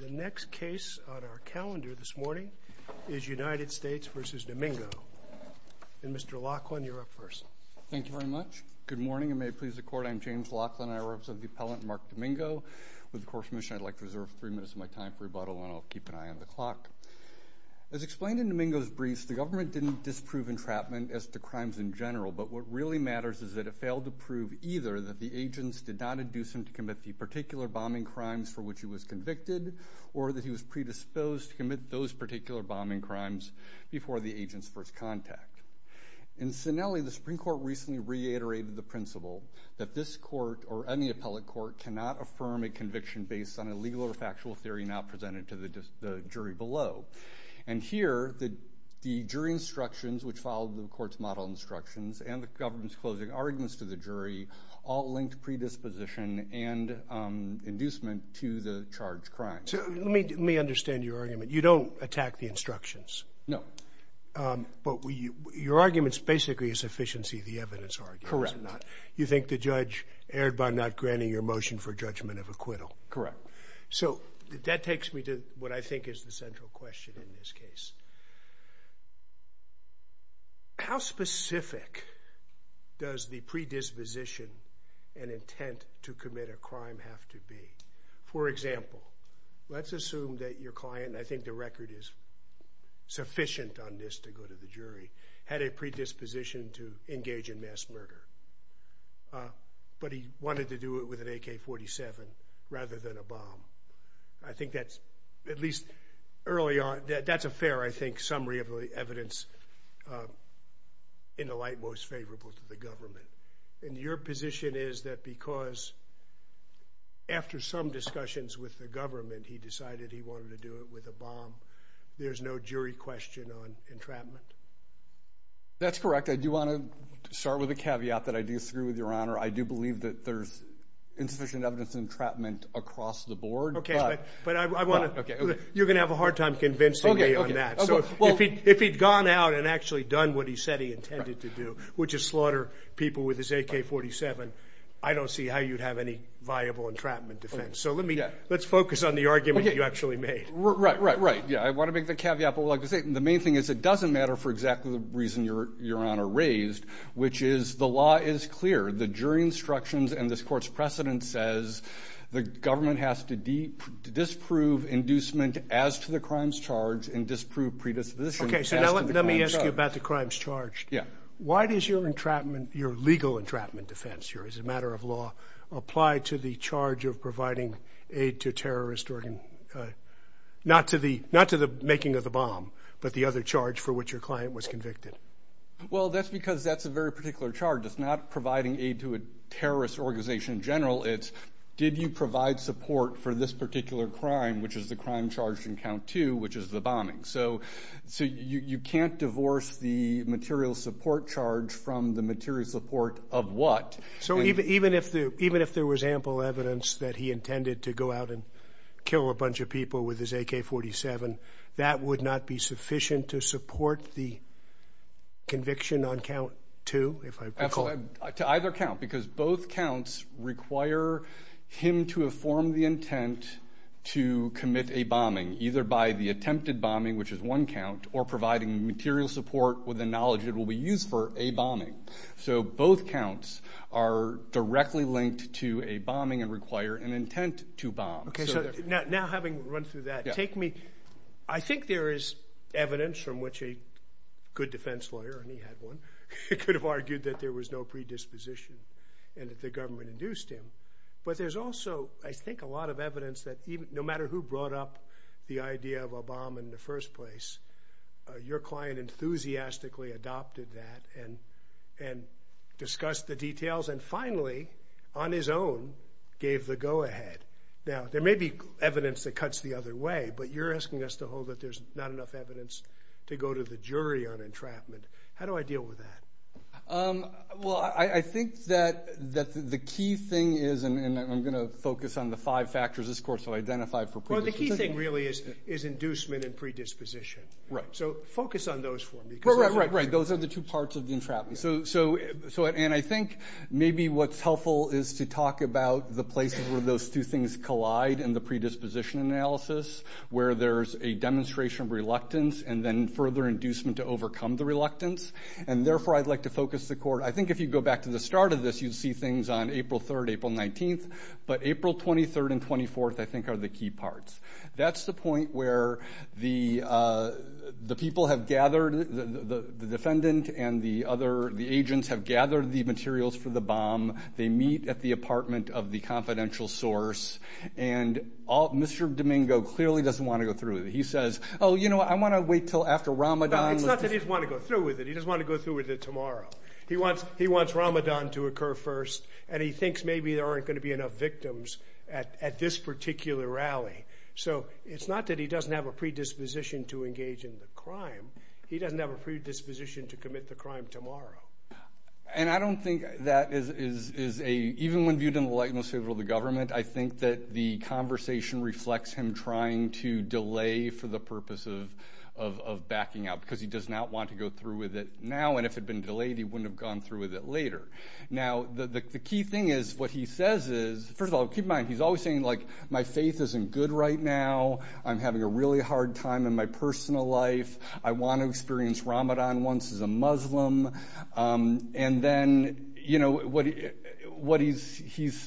The next case on our calendar this morning is United States v. Domingo, and Mr. Laughlin, you're up first. Thank you very much. Good morning, and may it please the Court, I'm James Laughlin, and I represent the appellant Mark Domingo. With the Court's permission, I'd like to reserve three minutes of my time for rebuttal, and I'll keep an eye on the clock. As explained in Domingo's briefs, the government didn't disprove entrapment as to crimes in general, but what really matters is that it failed to prove either that the agents did not induce him to commit the particular bombing crimes for which he was convicted, or that he was predisposed to commit those particular bombing crimes before the agent's first contact. In Sinelli, the Supreme Court recently reiterated the principle that this Court or any appellate court cannot affirm a conviction based on a legal or factual theory not presented to the jury below. And here, the jury instructions which followed the Court's model instructions and the government's closing arguments to the jury all linked predisposition and inducement to the charged crime. So let me understand your argument. You don't attack the instructions? No. But your argument's basically a sufficiency of the evidence argument, is it not? Correct. You think the judge erred by not granting your motion for judgment of acquittal? Correct. So that takes me to what I think is the central question in this case. How specific does the predisposition and intent to commit a crime have to be? For example, let's assume that your client, and I think the record is sufficient on this to go to the jury, had a predisposition to engage in mass murder. But he wanted to do it with an AK-47 rather than a bomb. I think that's, at least early on, that's a fair, I think, summary of the evidence in the light most favorable to the government. And your position is that because, after some discussions with the government, he decided he wanted to do it with a bomb, there's no jury question on entrapment? That's correct. I do want to start with a caveat that I do agree with, Your Honor. I do believe that there's insufficient evidence of entrapment across the board. Okay. But I want to... Okay. You're going to have a hard time convincing me on that. Okay, okay. So if he'd gone out and actually done what he said he intended to do, which is slaughter people with his AK-47, I don't see how you'd have any viable entrapment defense. So let me... Yeah. Let's focus on the argument you actually made. Right, right, right. Yeah, I want to make the caveat, but like I say, the main thing is it doesn't matter for exactly the reason Your Honor raised, which is the law is clear. The jury instructions and this court's precedent says the government has to disprove inducement as to the crimes charged and disprove predisposition as to the crimes charged. Okay, so now let me ask you about the crimes charged. Yeah. Why does your legal entrapment defense here, as a matter of law, apply to the charge of providing aid to terrorist organ... Not to the making of the bomb, but the other charge for which your client was convicted? Well, that's because that's a very particular charge. It's not providing aid to a terrorist organization in general, it's did you provide support for this particular crime, which is the crime charged in count two, which is the bombing. So you can't divorce the material support charge from the material support of what? So even if there was ample evidence that he intended to go out and kill a bunch of people with his AK-47, that would not be sufficient to support the conviction on count two, if I recall? Absolutely, to either count, because both counts require him to have formed the intent to commit a bombing, either by the attempted bombing, which is one count, or providing material support with the knowledge it will be used for a bombing. So both counts are directly linked to a bombing and require an intent to bomb. Okay, so now having run through that, take me... I think there is evidence from which a good defense lawyer, and he had one, could have argued that there was no predisposition and that the government induced him. But there's also, I think, a lot of evidence that no matter who brought up the idea of a bomb in the first place, your client enthusiastically adopted that and discussed the details and finally, on his own, gave the go ahead. Now, there may be evidence that cuts the other way, but you're asking us to hold that there's not enough evidence to go to the jury on entrapment. How do I deal with that? Well, I think that the key thing is, and I'm going to focus on the five factors this court shall identify for predisposition. Well, the key thing really is inducement and predisposition. Right. So focus on those for me. Right, right, right. Those are the two parts of the entrapment. And I think maybe what's helpful is to talk about the places where those two things collide in the predisposition analysis, where there's a demonstration of reluctance and then further inducement to overcome the reluctance. And therefore, I'd like to focus the court. I think if you go back to the start of this, you'd see things on April 3rd, April 19th. But April 23rd and 24th, I think, are the key parts. That's the point where the people have gathered, the defendant and the other, the agents have gathered the materials for the bomb. They meet at the apartment of the confidential source. And Mr. Domingo clearly doesn't want to go through it. He says, oh, you know what, I want to wait until after Ramadan. No, it's not that he doesn't want to go through with it. He doesn't want to go through with it tomorrow. He wants Ramadan to occur first. And he thinks maybe there aren't going to be enough victims at this particular rally. So it's not that he doesn't have a predisposition to engage in the crime. He doesn't have a predisposition to commit the crime tomorrow. And I don't think that is a, even when viewed in the light most favorable of the government, I think that the conversation reflects him trying to delay for the purpose of backing out because he does not want to go through with it now. And if it had been delayed, he wouldn't have gone through with it later. Now the key thing is, what he says is, first of all, keep in mind, he's always saying like, my faith isn't good right now. I'm having a really hard time in my personal life. I want to experience Ramadan once as a Muslim. And then, you know, what he's,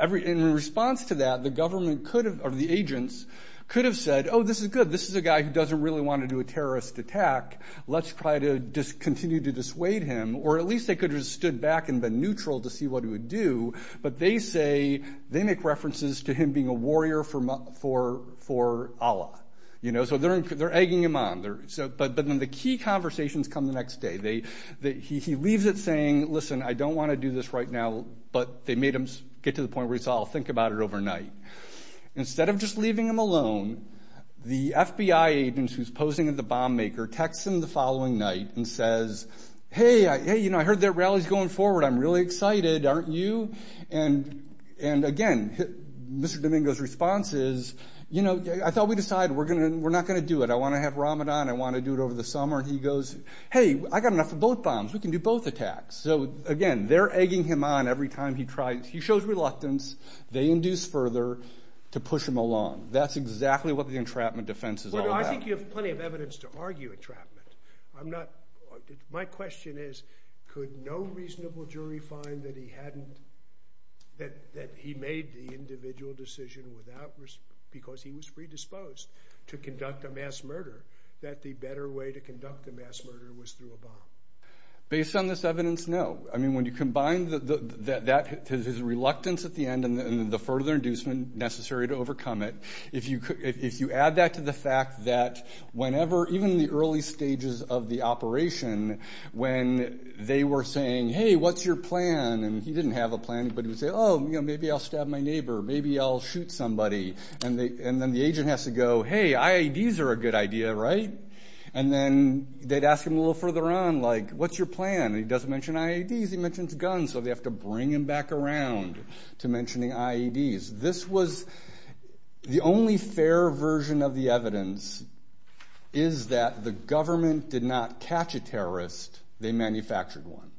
in response to that, the government could have, or the agents could have said, oh, this is good. This is a guy who doesn't really want to do a terrorist attack. Let's try to just continue to dissuade him. Or at least they could have stood back and been neutral to see what he would do. But they say, they make references to him being a warrior for Allah. You know, so they're egging him on. But then the key conversations come the next day. He leaves it saying, listen, I don't want to do this right now. But they made him get to the point where he said, I'll think about it overnight. Instead of just leaving him alone, the FBI agent who's posing as the bomb maker texts him the following night and says, hey, you know, I heard that rally's going forward. I'm really excited. Aren't you? And again, Mr. Domingo's response is, you know, I thought we decided we're not going to do it. I want to have Ramadan. I want to do it over the summer. And he goes, hey, I got enough of both bombs. We can do both attacks. So again, they're egging him on every time he tries. He shows reluctance. They induce further to push him along. That's exactly what the entrapment defense is all about. Well, I think you have plenty of evidence to argue entrapment. I'm not, my question is, could no reasonable jury find that he hadn't, that he made the individual decision without, because he was predisposed to conduct a mass murder, that the better way to conduct a mass murder was through a bomb? Based on this evidence, no. I mean, when you combine that, his reluctance at the end and the further inducement necessary to overcome it. If you add that to the fact that whenever, even in the early stages of the operation, when they were saying, hey, what's your plan? And he didn't have a plan, but he would say, oh, you know, maybe I'll stab my neighbor. Maybe I'll shoot somebody. And then the agent has to go, hey, IEDs are a good idea, right? And then they'd ask him a little further on, like, what's your plan? And he doesn't mention IEDs. He mentions guns. So they have to bring him back around to mentioning IEDs. This was the only fair version of the evidence is that the government did not catch a terrorist. They manufactured one.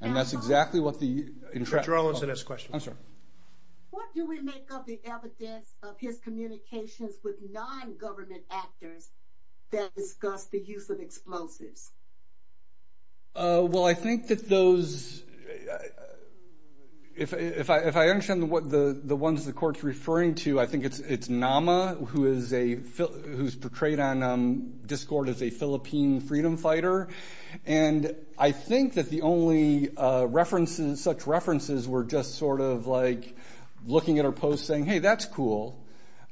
And that's exactly what the entrapment. Dr. Arlinson has a question. I'm sorry. What do we make of the evidence of his communications with non-government actors that discuss the use of explosives? Well, I think that those, if I understand the ones the court's referring to, I think it's Nama, who is a, who's portrayed on Discord as a Philippine freedom fighter. And I think that the only references, such references were just sort of like looking at her post saying, hey, that's cool.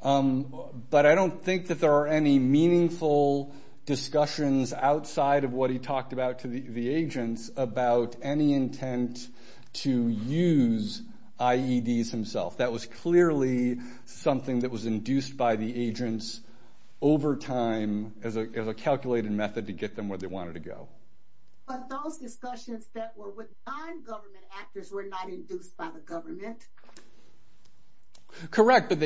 But I don't think that there are any meaningful discussions outside of what he talked about to the agents about any intent to use IEDs himself. That was clearly something that was induced by the agents over time as a calculated method to get them where they wanted to go. But those discussions that were with non-government actors were not induced by the government? Correct, but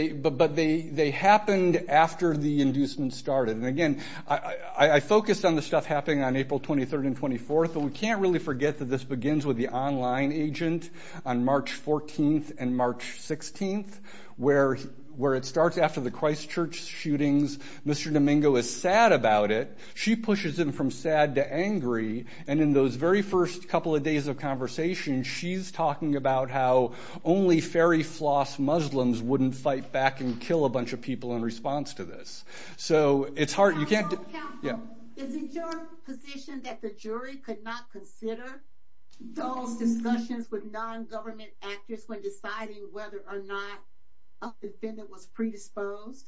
they happened after the inducement started. And again, I focused on the stuff happening on April 23rd and 24th. But we can't really forget that this begins with the online agent on March 14th and March 16th, where it starts after the Christchurch shootings. Mr. Domingo is sad about it. She pushes him from sad to angry. And in those very first couple of days of conversation, she's talking about how only fairy floss Muslims wouldn't fight back and kill a bunch of people in response to this. So it's hard. You can't. Yeah. Is it your position that the jury could not consider those discussions with non-government actors when deciding whether or not a defendant was predisposed?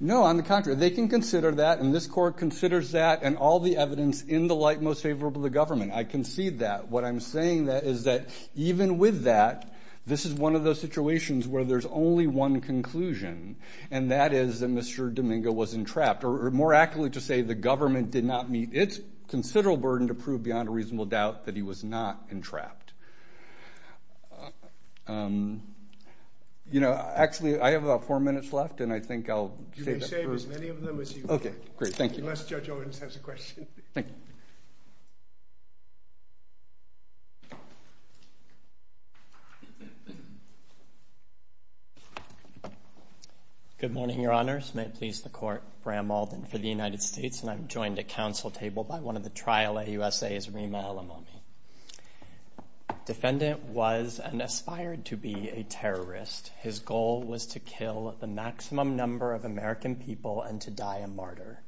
No, on the contrary, they can consider that. And this court considers that and all the evidence in the light most favorable to the government. I concede that. What I'm saying is that even with that, this is one of those situations where there's only one conclusion, and that is that Mr. Domingo was entrapped, or more accurately to say the government did not meet its considerable burden to prove beyond a reasonable doubt that he was not entrapped. You know, actually, I have about four minutes left, and I think I'll save as many of them as you can, unless Judge Owens has a question. Thank you. Good morning, Your Honors. May it please the Court, Bram Alden for the United States, and I'm joined at council table by one of the trial AUSAs, Reema El-Ammami. Defendant was and aspired to be a terrorist. His goal was to kill the maximum number of American people and to die a martyr.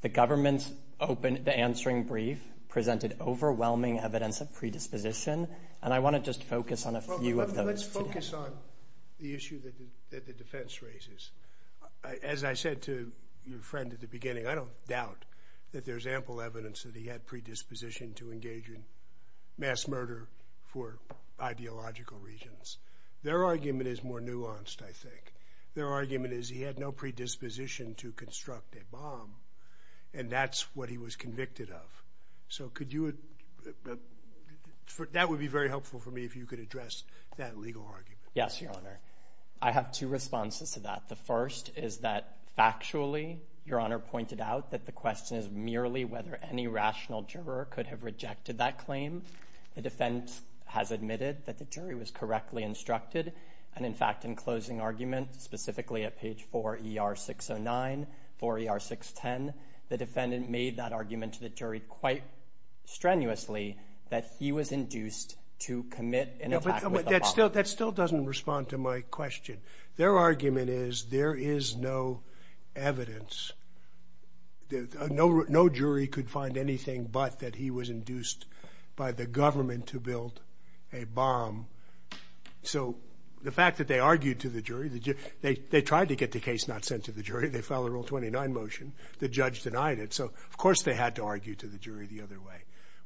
The government's open, the answering brief presented overwhelming evidence of predisposition, and I want to just focus on a few of those. Let's focus on the issue that the defense raises. As I said to your friend at the beginning, I don't doubt that there's ample evidence that he had predisposition to engage in mass murder for ideological reasons. Their argument is more nuanced, I think. Their argument is he had no predisposition to construct a bomb, and that's what he was convicted of. So could you, that would be very helpful for me if you could address that legal argument. Yes, Your Honor. I have two responses to that. The first is that factually, Your Honor pointed out that the question is merely whether any rational juror could have rejected that claim. The defense has admitted that the jury was correctly instructed. And in fact, in closing argument, specifically at page 4 ER 609, 4 ER 610, the defendant made that argument to the jury quite strenuously that he was induced to commit an attack with a bomb. That still doesn't respond to my question. Their argument is there is no evidence, no jury could find anything but that he was induced by the government to build a bomb. So the fact that they argued to the jury, they tried to get the case not sent to the jury, they filed a Rule 29 motion, the judge denied it. So of course they had to argue to the jury the other way.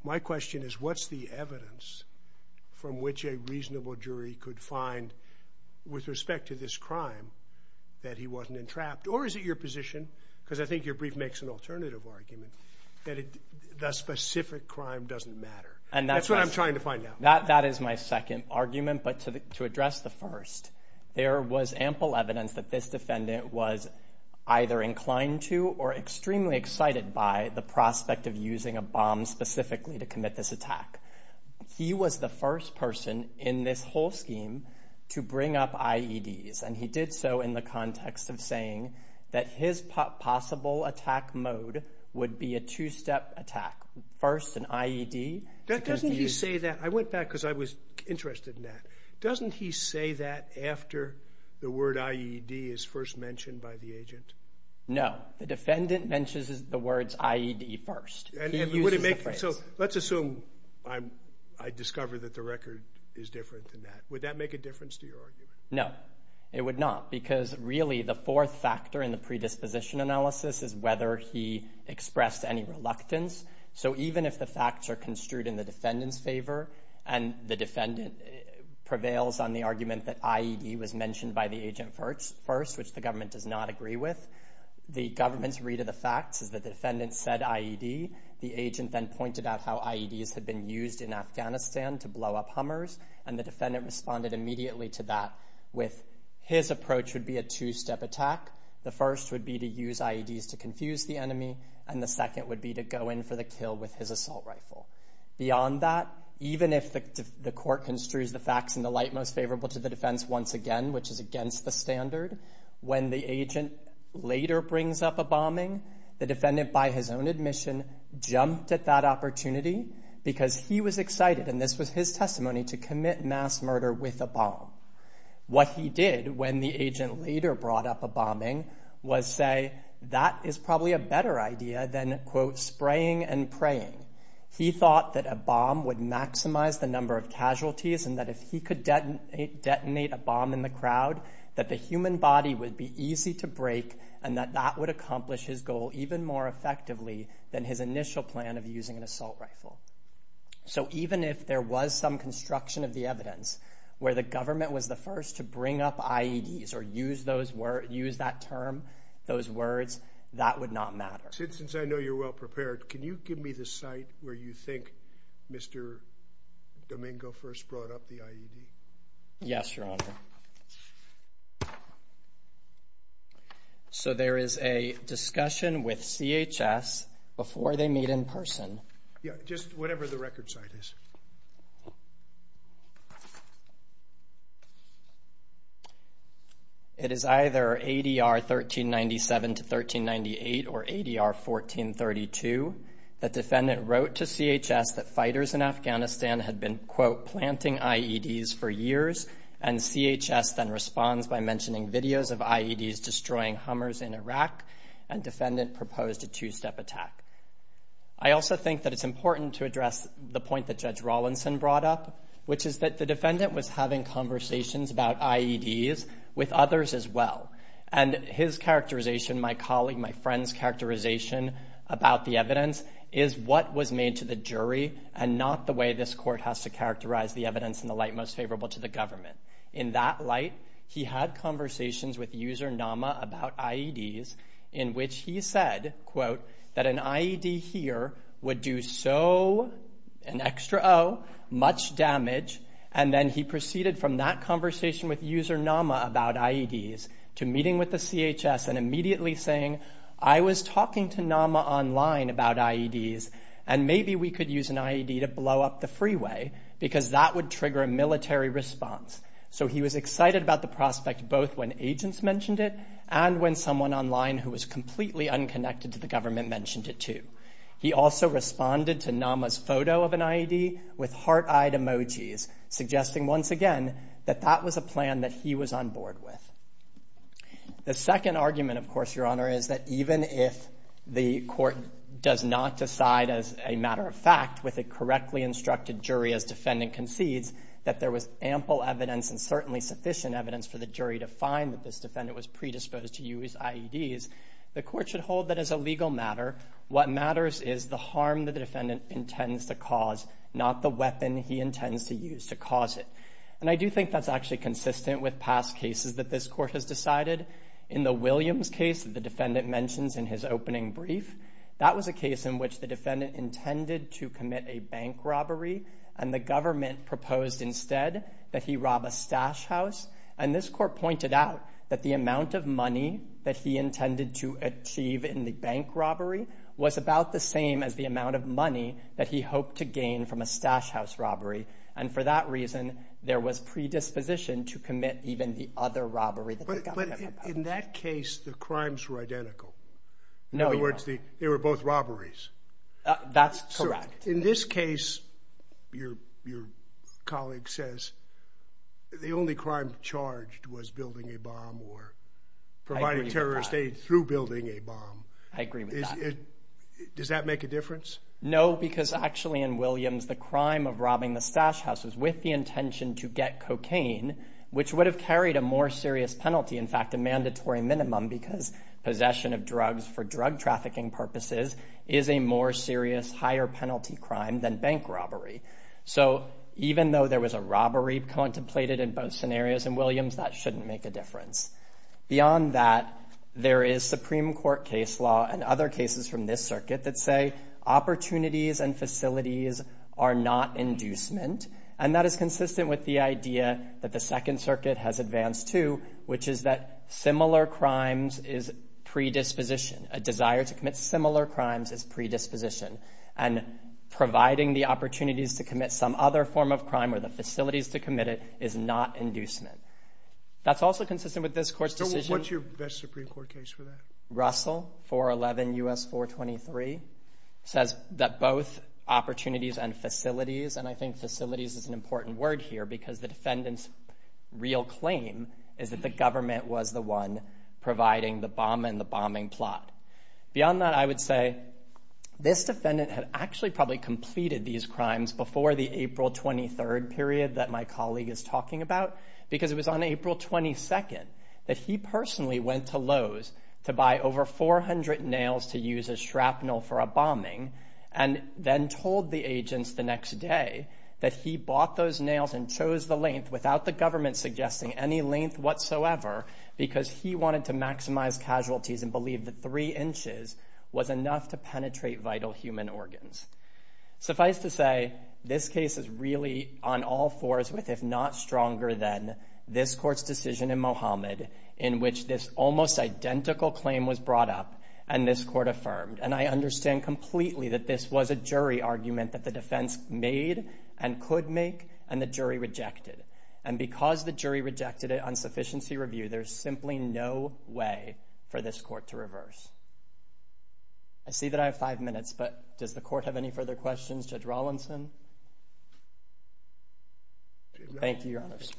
My question is what's the evidence from which a reasonable jury could find with respect to this crime that he wasn't entrapped? Or is it your position, because I think your brief makes an alternative argument, that the specific crime doesn't matter? And that's what I'm trying to find out. That is my second argument. But to address the first, there was ample evidence that this defendant was either inclined to or extremely excited by the prospect of using a bomb specifically to commit this attack. He was the first person in this whole scheme to bring up IEDs. And he did so in the context of saying that his possible attack mode would be a two step attack. First, an IED. Doesn't he say that, I went back because I was interested in that, doesn't he say that after the word IED is first mentioned by the agent? No, the defendant mentions the words IED first. So let's assume I discover that the record is different than that. Would that make a difference to your argument? No, it would not. Because really the fourth factor in the predisposition analysis is whether he expressed any reluctance. So even if the facts are construed in the defendant's favor and the defendant prevails on the argument that IED was mentioned by the agent first, which the government does not agree with, the government's read of the facts is that the defendant said IED. The agent then pointed out how IEDs had been used in Afghanistan to blow up Hummers. And the defendant responded immediately to that with his approach would be a two step attack. The first would be to use IEDs to confuse the enemy and the second would be to go in for the kill with his assault rifle. Beyond that, even if the court construes the facts in the light most favorable to the defense once again, which is against the standard, when the agent later brings up a bombing, the defendant by his own admission jumped at that opportunity because he was excited, and this was his testimony, to commit mass murder with a bomb. What he did when the agent later brought up a bombing was say, that is probably a better idea than, quote, spraying and praying. He thought that a bomb would maximize the number of casualties and that if he could detonate a bomb in the crowd, that the human body would be easy to break and that that would accomplish his goal even more effectively than his initial plan of using an assault rifle. So even if there was some construction of the evidence where the government was the first to bring up IEDs or use those words, use that term, those words, that would not matter. Since I know you're well prepared, can you give me the site where you think Mr. Domingo first brought up the IED? Yes, Your Honor. So there is a discussion with CHS before they meet in person. Yeah, just whatever the record site is. It is either ADR 1397 to 1398 or ADR 1432. The defendant wrote to CHS that fighters in Afghanistan had been, quote, planting IEDs for years, and CHS then responds by mentioning videos of IEDs destroying Hummers in Iraq, and defendant proposed a two-step attack. I also think that it's important to address the point that Judge Rawlinson brought up, which is that the defendant was having conversations about IEDs with others as well, and his characterization, my colleague, my friend's characterization about the evidence is what was made to the jury and not the way this court has to characterize the evidence in the light most favorable to the government. In that light, he had conversations with user Nama about IEDs in which he said, quote, that an IED here would do so, an extra O, much damage, and then he proceeded from that conversation with user Nama about IEDs to meeting with the CHS and immediately saying, I was talking to Nama online about IEDs, and maybe we could use an IED to blow up the freeway because that would trigger a military response. So he was excited about the prospect both when agents mentioned it and when someone online who was completely unconnected to the government mentioned it, too. He also responded to Nama's photo of an IED with heart-eyed emojis, suggesting once again that that was a plan that he was on board with. The second argument, of course, Your Honor, is that even if the court does not decide as a matter of fact with a correctly instructed jury as defendant concedes that there was ample evidence and certainly sufficient evidence for the jury to find that this defendant was predisposed to use IEDs, the court should hold that as a legal matter, what matters is the harm that the defendant intends to cause, not the weapon he intends to use to cause it. And I do think that's actually consistent with past cases that this court has decided. In the Williams case that the defendant mentions in his opening brief, that was a case in which the defendant intended to commit a bank robbery and the government proposed instead that he rob a stash house. And this court pointed out that the amount of money that he intended to achieve in the bank robbery was about the same as the amount of money that he hoped to gain from a stash house robbery. And for that reason, there was predisposition to commit even the other robbery that the government proposed. But in that case, the crimes were identical. In other words, they were both robberies. That's correct. In this case, your colleague says the only crime charged was building a bomb or providing terrorist aid through building a bomb. I agree with that. Does that make a difference? No, because actually in Williams, the crime of robbing the stash house was with the intention to get cocaine, which would have carried a more serious penalty. In fact, a mandatory minimum because possession of drugs for drug trafficking purposes is a more serious, higher penalty crime than bank robbery. So even though there was a robbery contemplated in both scenarios in Williams, that shouldn't make a difference. Beyond that, there is Supreme Court case law and other cases from this circuit that say opportunities and facilities are not inducement. And that is consistent with the idea that the Second Circuit has advanced to, which is that similar crimes is predisposition. A desire to commit similar crimes is predisposition. And providing the opportunities to commit some other form of crime or the facilities to commit it is not inducement. That's also consistent with this court's decision. What's your best Supreme Court case for that? Russell, 411 U.S. 423, says that both opportunities and facilities, and I think facilities is an important word here because the defendant's real claim is that the government was the one providing the bomb and the bombing plot. Beyond that, I would say this defendant had actually probably completed these crimes before the April 23rd period that my colleague is talking about because it was on April 22nd that he personally went to Lowe's to buy over 400 nails to use as shrapnel for a bombing and then told the agents the next day that he bought those nails and chose the length without the government suggesting any length whatsoever because he wanted to maximize casualties and believed that three inches was enough to penetrate vital human organs. Suffice to say, this case is really on all fours with, if not stronger than, this court's decision in Mohamed in which this almost identical claim was brought up and this court affirmed. And I understand completely that this was a jury argument that the defense made and could make and the jury rejected. And because the jury rejected it on sufficiency review, there's simply no way for this court to reverse. I see that I have five minutes, but does the court have any further questions? Judge Rawlinson? Thank you, Your Honors.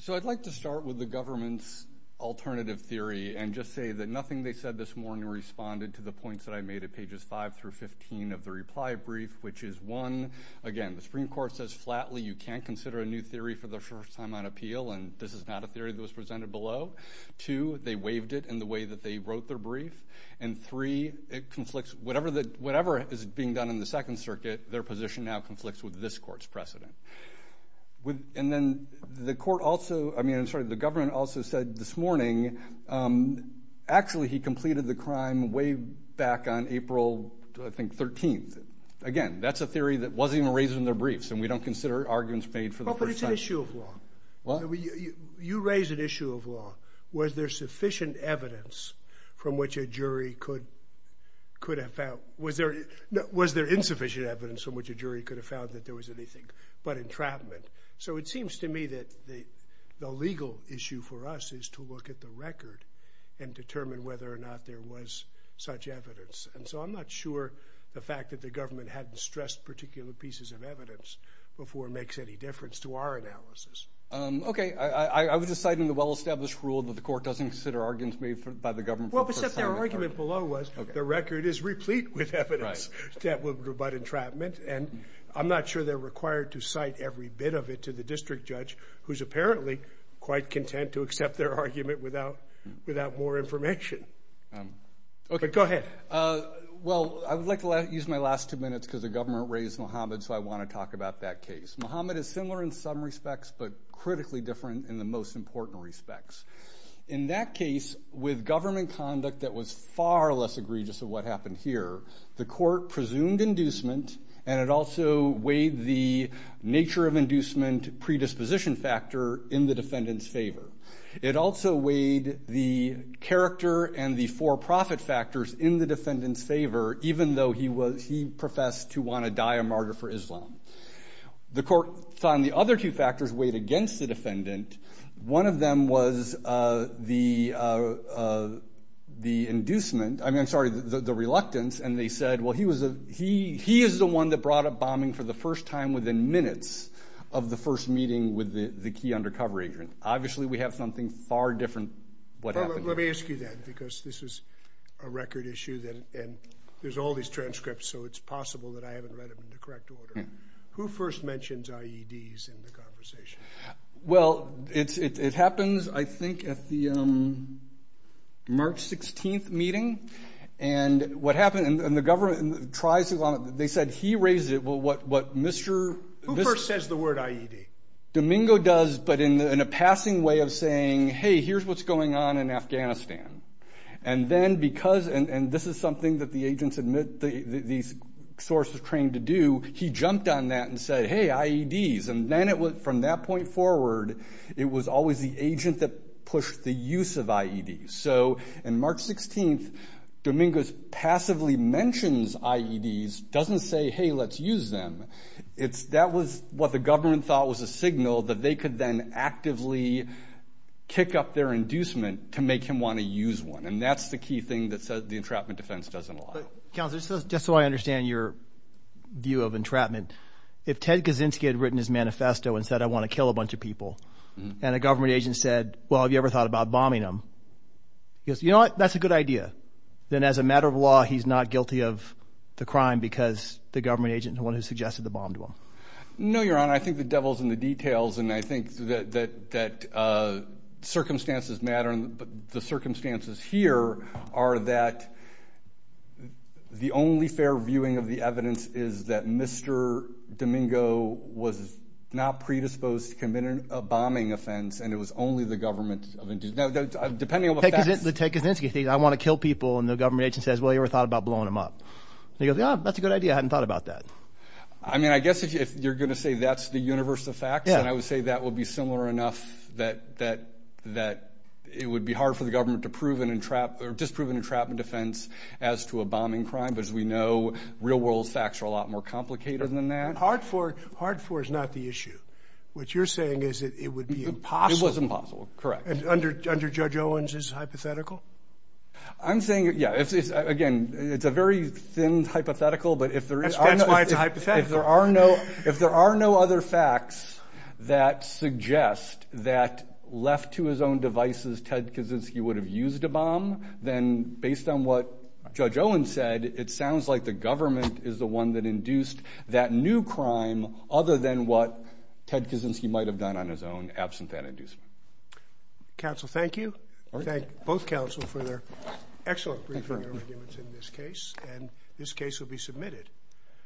So I'd like to start with the government's alternative theory and just say that nothing they said this morning responded to the points that I made at pages 5 through 15 of the reply brief, which is one, again, the Supreme Court says flatly you can't consider a new theory for the first time on appeal and this is not a theory that was presented below. Two, they waived it in the way that they wrote their brief. And three, it conflicts, whatever is being done in the Second Circuit, their position now conflicts with this court's precedent. And then the court also, I mean, I'm sorry, the government also said this morning, actually, he completed the crime way back on April, I think, 13th. Again, that's a theory that wasn't even raised in their briefs and we don't consider arguments made for the first time. But it's an issue of law. What? You raised an issue of law. Was there sufficient evidence from which a jury could have found, was there insufficient evidence from which a jury could have found that there was anything but entrapment? So it seems to me that the legal issue for us is to look at the record and determine whether or not there was such evidence. And so I'm not sure the fact that the government hadn't stressed particular pieces of evidence before makes any difference to our analysis. Okay. I was just citing the well-established rule that the court doesn't consider arguments made by the government for the first time. Well, except their argument below was the record is replete with evidence that would rebut entrapment. And I'm not sure they're required to cite every bit of it to the district judge, who's apparently quite content to accept their argument without more information. But go ahead. Well, I would like to use my last two minutes because the government raised Mohammed, so I want to talk about that case. Mohammed is similar in some respects, but critically different in the most important respects. In that case, with government conduct that was far less egregious of what happened here, the court presumed inducement and it also weighed the nature of inducement predisposition factor in the defendant's favor. It also weighed the character and the for-profit factors in the defendant's favor, even though he professed to want to die a martyr for Islam. The court found the other two factors weighed against the defendant. One of them was the reluctance and they said, well, he is the one that brought up bombing for the first time within minutes of the first meeting with the key undercover agent. Obviously, we have something far different what happened here. Let me ask you then, because this is a record issue and there's all these transcripts, so it's possible that I haven't read them in the correct order. Who first mentions IEDs in the conversation? Well, it happens, I think, at the March 16th meeting and what happened, and the government tries to, they said he raised it, well, what Mr. Who first says the word IED? Domingo does, but in a passing way of saying, hey, here's what's going on in Afghanistan. And then because, and this is something that the agents admit these sources trained to do, he jumped on that and said, hey, IEDs. And then from that point forward, it was always the agent that pushed the use of IEDs. So in March 16th, Domingo passively mentions IEDs, doesn't say, hey, let's use them. It's, that was what the government thought was a signal that they could then actively kick up their inducement to make him want to use one. And that's the key thing that says the entrapment defense doesn't allow. Counselor, just so I understand your view of entrapment, if Ted Kaczynski had written his manifesto and said, I want to kill a bunch of people, and a government agent said, well, have you ever thought about bombing them? He goes, you know what, that's a good idea. Then as a matter of law, he's not guilty of the crime because the government agent is the one who suggested the bomb to him. No, Your Honor, I think the devil's in the details. And I think that circumstances matter, but the circumstances here are that the only fair viewing of the evidence is that Mr. Domingo was not predisposed to committing a bombing offense. And it was only the government, depending on the facts. Ted Kaczynski said, I want to kill people. And the government agent says, well, you ever thought about blowing them up? He goes, yeah, that's a good idea. I hadn't thought about that. I mean, I guess if you're going to say that's the universe of facts, then I would say that would be similar enough that it would be hard for the government to prove an entrapment, or disprove an entrapment defense as to a bombing crime. But as we know, real world facts are a lot more complicated than that. Hard for, hard for is not the issue. What you're saying is that it would be impossible. It was impossible, correct. And under Judge Owens, it's hypothetical? I'm saying, yeah, again, it's a very thin hypothetical. But if there are no other facts that suggest that left to his own devices, Ted Kaczynski would have used a bomb, then based on what Judge Owens said, it sounds like the government is the one that induced that new crime other than what Ted Kaczynski might have done on his own, absent that inducement. Counsel, thank you. Thank both counsel for their excellent briefing arguments in this case, and this case will be submitted.